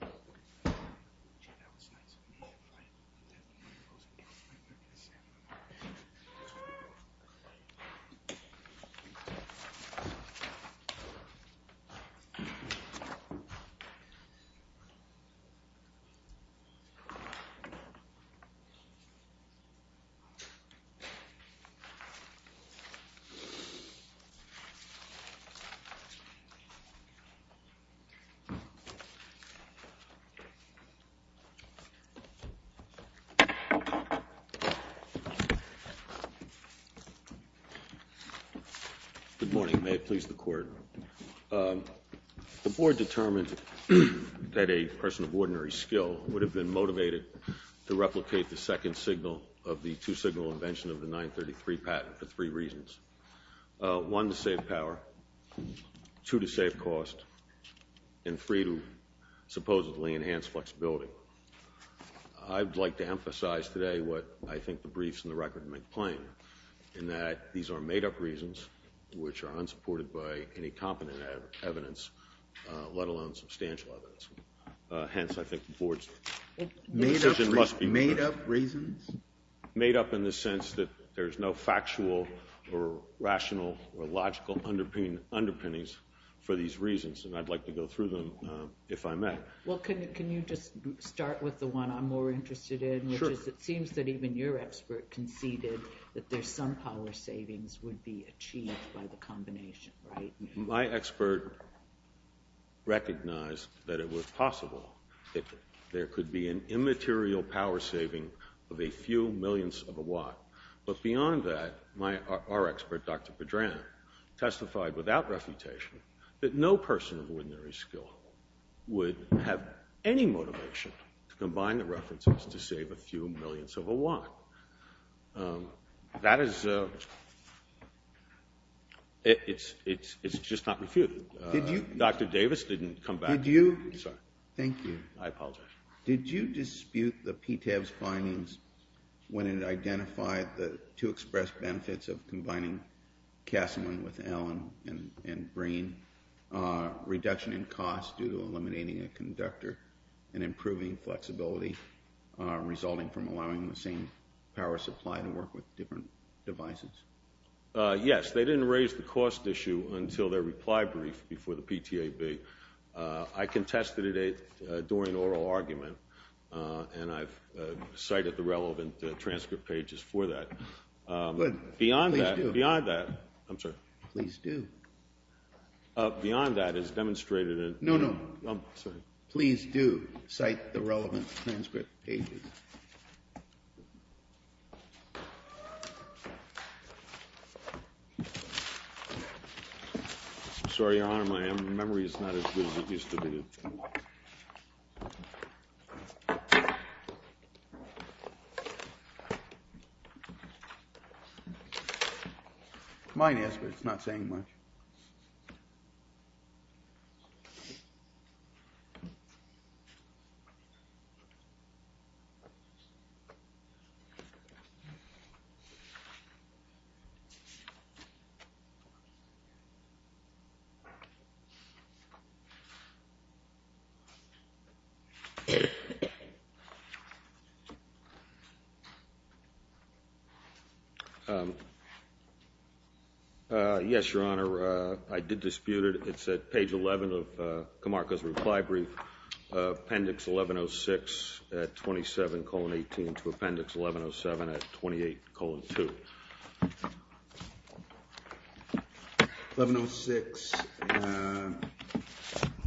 That was nice. Oh, right. Good morning, may it please the Court. The Board determined that a person of ordinary skill would have been motivated to replicate the second signal of the two-signal invention of the 933 patent for three reasons. One, to save power, two, to save cost, and three, to supposedly enhance flexibility. I would like to emphasize today what I think the briefs and the record make plain, in that these are made-up reasons which are unsupported by any competent evidence, let alone substantial evidence. Hence, I think the Board's decision must be heard. Made-up reasons? Made-up in the sense that there's no factual or rational or logical underpinnings for these reasons, and I'd like to go through them if I may. Well, can you just start with the one I'm more interested in, which is it seems that even your expert conceded that there's some power savings would be achieved by the combination, right? My expert recognized that it was possible that there could be an immaterial power saving of a few millionths of a watt. But beyond that, our expert, Dr. Pedram, testified without refutation that no person of ordinary skill would have any motivation to combine the references to save a few millionths of a watt. That is, it's just not refuted. Did you? Dr. Davis didn't come back. Did you? I'm sorry. Thank you. I apologize. Did you dispute the PTAB's findings when it identified the two expressed benefits of combining Casamon with Allen and Breen, reduction in cost due to eliminating a conductor and improving flexibility resulting from allowing the same power supply to work with different devices? Yes. They didn't raise the cost issue until their reply brief before the PTAB. I contested it during oral argument, and I've cited the relevant transcript pages for that. Beyond that, beyond that, I'm sorry. Please do. Beyond that, as demonstrated in- No, no. I'm sorry. Please do cite the relevant transcript pages. Mine is, but it's not saying much. Yes, Your Honor. I did dispute it. It's at page 11 of Kamarka's reply brief, appendix 1106 at 27,18 to appendix 1107 at 28,2. 1106,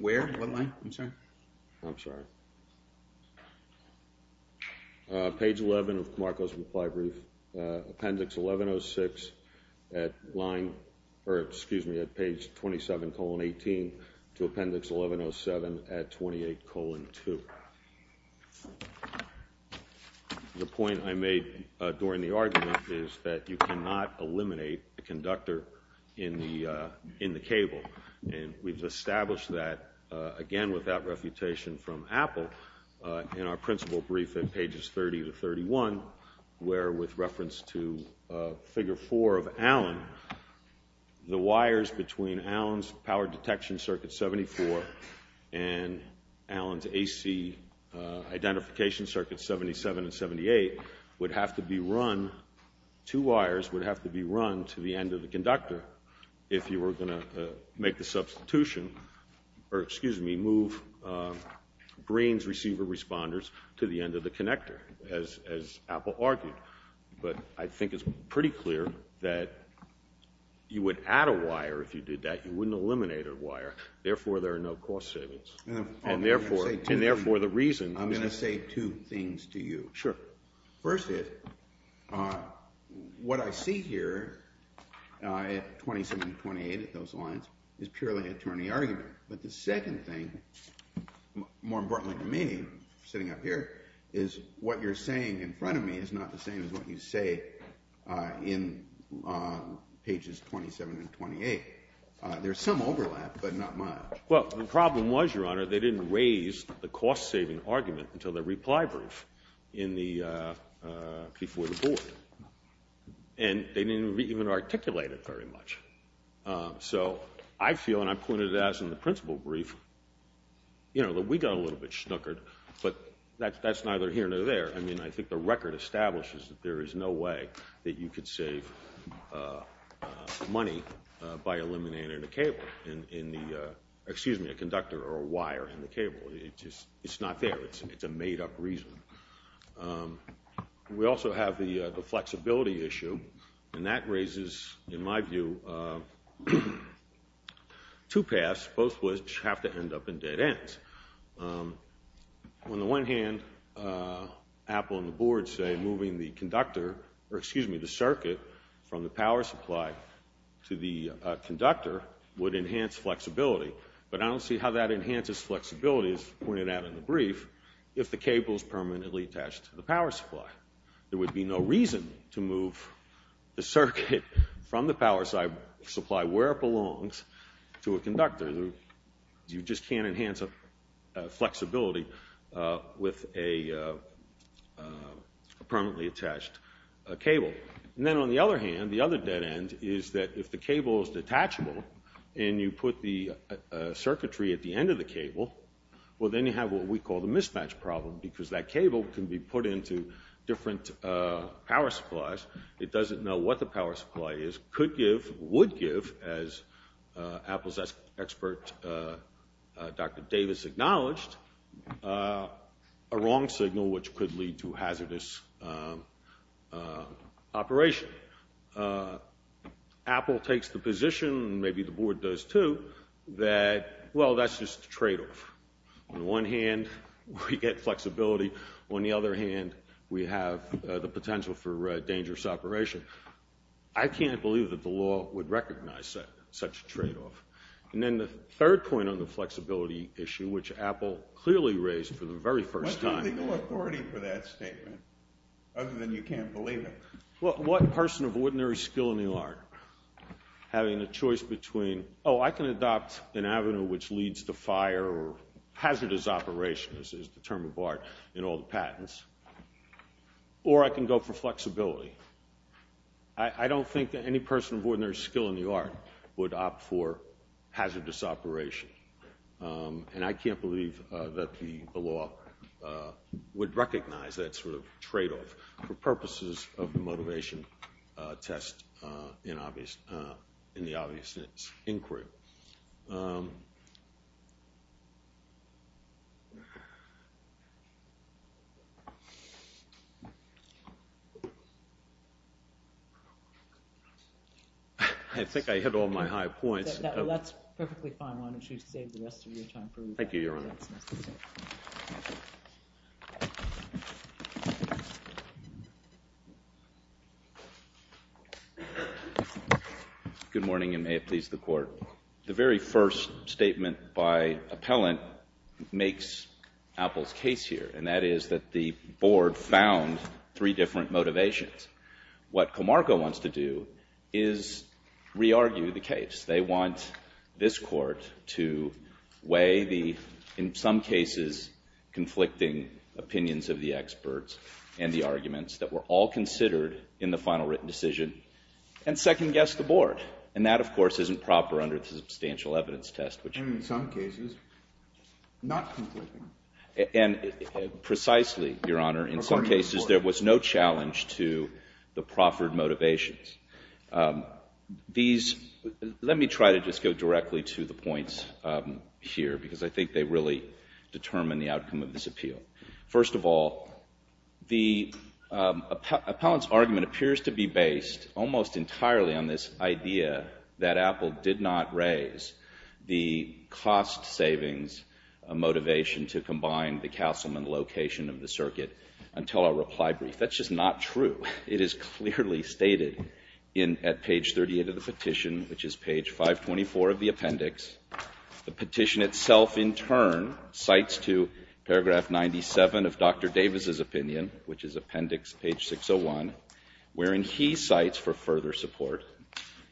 where, what line, I'm sorry? I'm sorry. Page 11 of Kamarka's reply brief, appendix 1106 at line, or excuse me, at page 27,18 to appendix 1107 at 28,2. The point I made during the argument is that you cannot eliminate a conductor in the cable, and we've established that, again, with that refutation from Apple, in our principal brief at pages 30 to 31, where, with reference to figure 4 of Allen, the wires between Allen's power detection circuit, 74, and Allen's AC identification circuit, 77 and 78, would have to be run, two wires would have to be run to the end of the conductor if you were going to make the substitution, or excuse me, move green's receiver responders to the end of the connector, as Apple argued. But I think it's pretty clear that you would add a wire if you did that. You wouldn't eliminate a wire, therefore there are no cost savings, and therefore, and therefore the reason. I'm going to say two things to you. Sure. First is, what I see here, at 27 and 28, at those lines, is purely attorney argument. But the second thing, more importantly to me, sitting up here, is what you're saying in front of me is not the same as what you say in pages 27 and 28. There's some overlap, but not much. Well, the problem was, your honor, they didn't raise the cost saving argument until the reply brief before the board. And they didn't even articulate it very much. So I feel, and I pointed it out in the principal brief, that we got a little bit snookered, but that's neither here nor there. I mean, I think the record establishes that there is no way that you could save money by eliminating a cable, excuse me, a conductor or a wire in the cable. It's not there. It's a made up reason. We also have the flexibility issue, and that raises, in my view, two paths, both of which have to end up in dead ends. On the one hand, Apple and the board say moving the conductor, or excuse me, the circuit from the power supply to the conductor would enhance flexibility. But I don't see how that enhances flexibility, as pointed out in the brief, if the cable is permanently attached to the power supply. There would be no reason to move the circuit from the power supply where it belongs to a conductor. You just can't enhance flexibility with a permanently attached cable. Then on the other hand, the other dead end is that if the cable is detachable and you put the circuitry at the end of the cable, well then you have what we call the mismatch problem because that cable can be put into different power supplies. It doesn't know what the power supply is, could give, would give, as Apple's expert Dr. Davis acknowledged, a wrong signal which could lead to hazardous operation. Apple takes the position, and maybe the board does too, that, well, that's just a tradeoff. On the one hand, we get flexibility. On the other hand, we have the potential for dangerous operation. I can't believe that the law would recognize such a tradeoff. And then the third point on the flexibility issue, which Apple clearly raised for the very first time. What's the legal authority for that statement, other than you can't believe it? What person of ordinary skill in the art having a choice between, oh, I can adopt an avenue which leads to fire or hazardous operation, as is the term of art in all the patents, or I can go for flexibility. I don't think that any person of ordinary skill in the art would opt for hazardous operation. And I can't believe that the law would recognize that sort of tradeoff for purposes of the in the obvious inquiry. I think I hit all my high points. That's perfectly fine. Why don't you save the rest of your time for later. Thank you, Your Honor. Good morning. And may it please the Court. The very first statement by appellant makes Apple's case here, and that is that the board found three different motivations. What Comarco wants to do is re-argue the case. They want this court to weigh the, in some cases, conflicting opinions of the experts and the arguments that were all considered in the final written decision and second-guess the board. And that, of course, isn't proper under the Substantial Evidence Test, which in some cases, not conflicting. And precisely, Your Honor, in some cases, there was no challenge to the proffered motivations. Let me try to just go directly to the points here, because I think they really determine the outcome of this appeal. First of all, the appellant's argument appears to be based almost entirely on this idea that Apple did not raise the cost savings motivation to combine the councilman location of the circuit until a reply brief. That's just not true. It is clearly stated at page 38 of the petition, which is page 524 of the appendix. The petition itself, in turn, cites to paragraph 97 of Dr. Davis's opinion, which is appendix page 601, wherein he cites for further support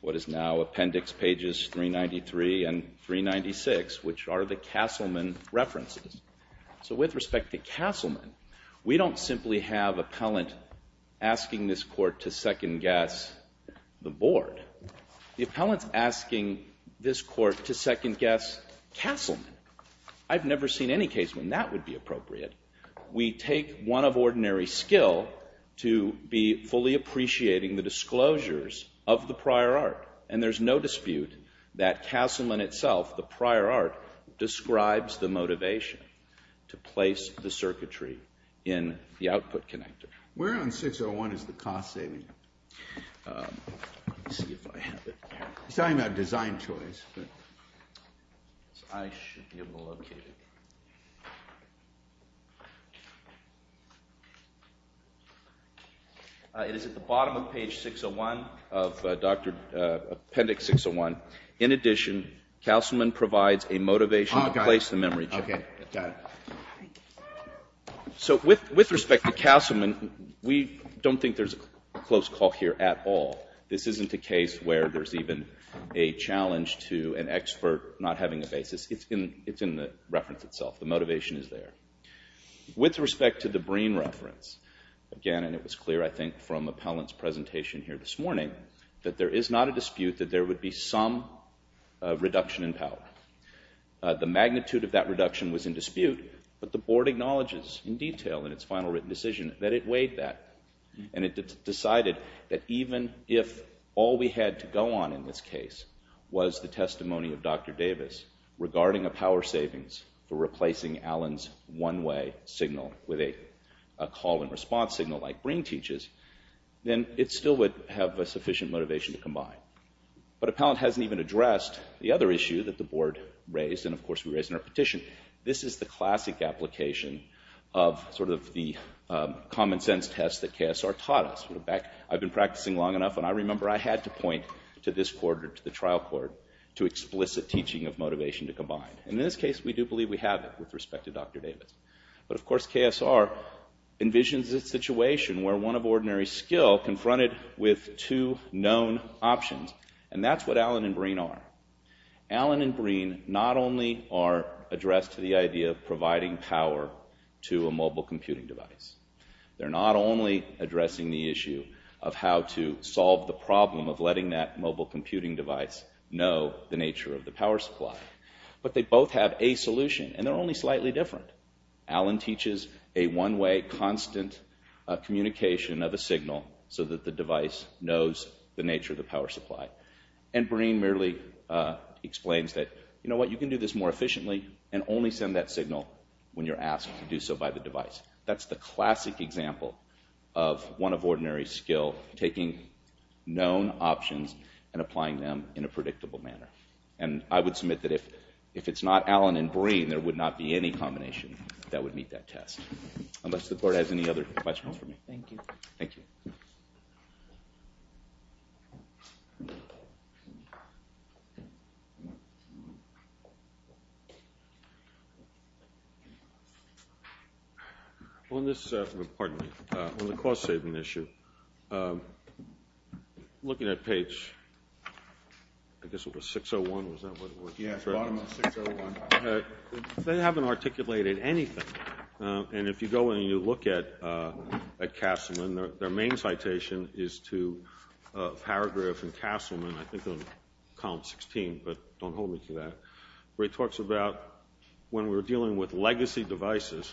what is now appendix pages 393 and 396, which are the Castleman references. So with respect to Castleman, we don't simply have appellant asking this court to second-guess the board. The appellant's asking this court to second-guess Castleman. I've never seen any case when that would be appropriate. We take one of ordinary skill to be fully appreciating the disclosures of the prior art. And there's no dispute that Castleman itself, the prior art, describes the motivation to place the circuitry in the output connector. Where on 601 is the cost saving? Let's see if I have it. He's talking about design choice. I should be able to locate it. It is at the bottom of page 601 of appendix 601. In addition, Castleman provides a motivation to place the memory chip. Okay. Got it. So with respect to Castleman, we don't think there's a close call here at all. This isn't a case where there's even a challenge to an expert not having a basis. It's in the reference itself. The motivation is there. With respect to the Breen reference, again, and it was clear, I think, from appellant's presentation here this morning, that there is not a dispute that there would be some reduction in power. The magnitude of that reduction was in dispute, but the board acknowledges in detail in its final written decision that it weighed that. And it decided that even if all we had to go on in this case was the testimony of Dr. Davis regarding a power savings for replacing Allen's one-way signal with a call-and-response signal like Breen teaches, then it still would have a sufficient motivation to combine. But appellant hasn't even addressed the other issue that the board raised and, of course, we raised in our petition. This is the classic application of sort of the common sense test that KSR taught us. I've been practicing long enough, and I remember I had to point to this court or to the trial court to explicit teaching of motivation to combine. And in this case, we do believe we have it with respect to Dr. Davis. But, of course, KSR envisions a situation where one of ordinary skill confronted with two known options, and that's what Allen and Breen are. Allen and Breen not only are addressed to the idea of providing power to a mobile computing device, they're not only addressing the issue of how to solve the problem of letting that mobile computing device know the nature of the power supply, but they both have a solution, and they're only slightly different. Allen teaches a one-way constant communication of a signal so that the device knows the nature of the power supply, and Breen merely explains that, you know what, you can do this more efficiently and only send that signal when you're asked to do so by the device. That's the classic example of one of ordinary skill taking known options and applying them in a predictable manner. And I would submit that if it's not Allen and Breen, there would not be any combination that would meet that test. Unless the board has any other questions for me. Thank you. Thank you. On this, pardon me, on the cost saving issue, looking at page, I guess it was 601, was that what it was? Yeah, bottom of 601. They haven't articulated anything, and if you go and you look at Castleman, their main citation is to paragraph in Castleman, I think on column 16, but don't hold me to that, where it talks about when we're dealing with legacy devices,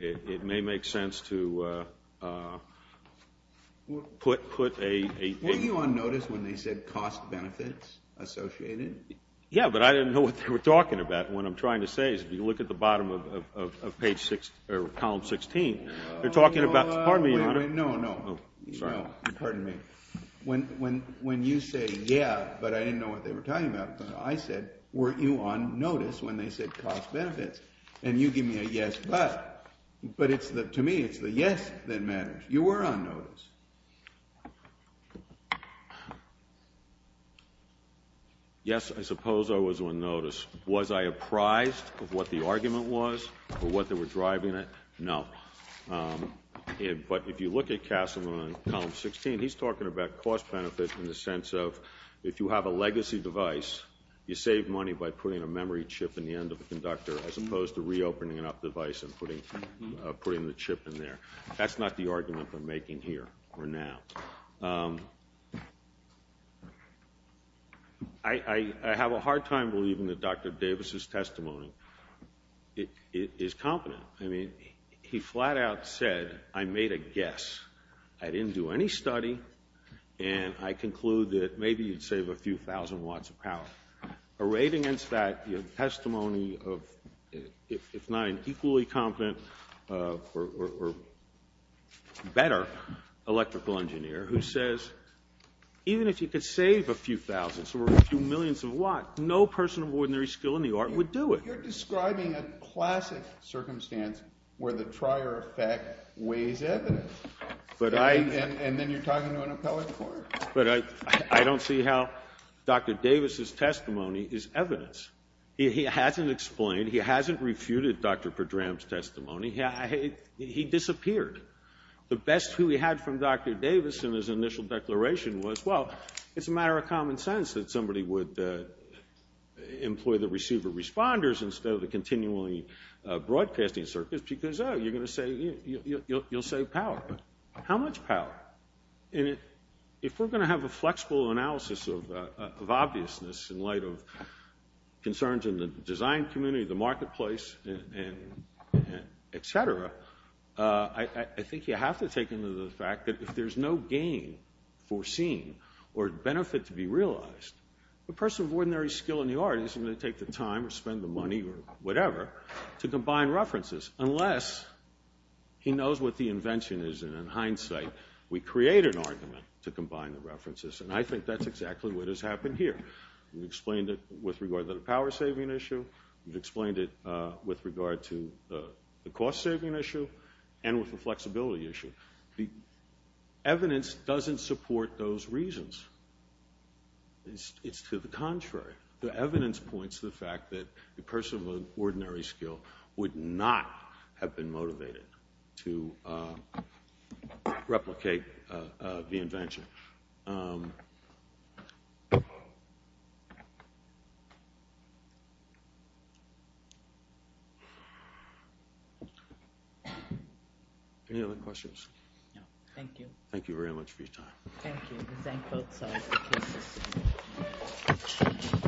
it may make sense to put a... Were you on notice when they said cost benefits associated? Yeah, but I didn't know what they were talking about. What I'm trying to say is if you look at the bottom of column 16, they're talking about... No, no, pardon me. When you say, yeah, but I didn't know what they were talking about. I said, were you on notice when they said cost benefits? And you give me a yes, but. But to me, it's the yes that matters. You were on notice. Yes, I suppose I was on notice. Was I apprised of what the argument was or what they were driving at? No. But if you look at Castleman on column 16, he's talking about cost benefits in the sense of if you have a legacy device, you save money by putting a memory chip in the end of the conductor as opposed to reopening up the device and putting the chip in there. That's not the argument they're making here or now. I have a hard time believing that Dr. Davis's testimony is confident. I mean, he flat out said, I made a guess. I didn't do any study. And I conclude that maybe you'd save a few thousand watts of power. A raid against that testimony of, if not an equally confident or better electrical engineer who says, even if you could save a few thousand or a few millions of watts, no person of ordinary skill in the art would do it. You're describing a classic circumstance where the trier effect weighs evidence. And then you're talking to an appellate court. But I don't see how Dr. Davis's testimony is evidence. He hasn't explained, he hasn't refuted Dr. Pedram's testimony. He disappeared. The best clue he had from Dr. Davis in his initial declaration was, well, it's a common sense that somebody would employ the receiver responders instead of the continually broadcasting circuits. Because, oh, you're going to say, you'll save power. How much power? And if we're going to have a flexible analysis of obviousness in light of concerns in the design community, the marketplace, et cetera, I think you have to take into the fact that if there's no gain foreseen or benefit to be realized, a person of ordinary skill in the art isn't going to take the time or spend the money or whatever to combine references unless he knows what the invention is. And in hindsight, we create an argument to combine the references. And I think that's exactly what has happened here. We've explained it with regard to the power saving issue. We've explained it with regard to the cost saving issue and with the evidence doesn't support those reasons. It's to the contrary. The evidence points to the fact that a person of ordinary skill would not have been motivated to replicate the invention. Any other questions? No. Thank you. Thank you very much for your time. Thank you. Thank you. Thank you. Thank you. Thank you. Thank you.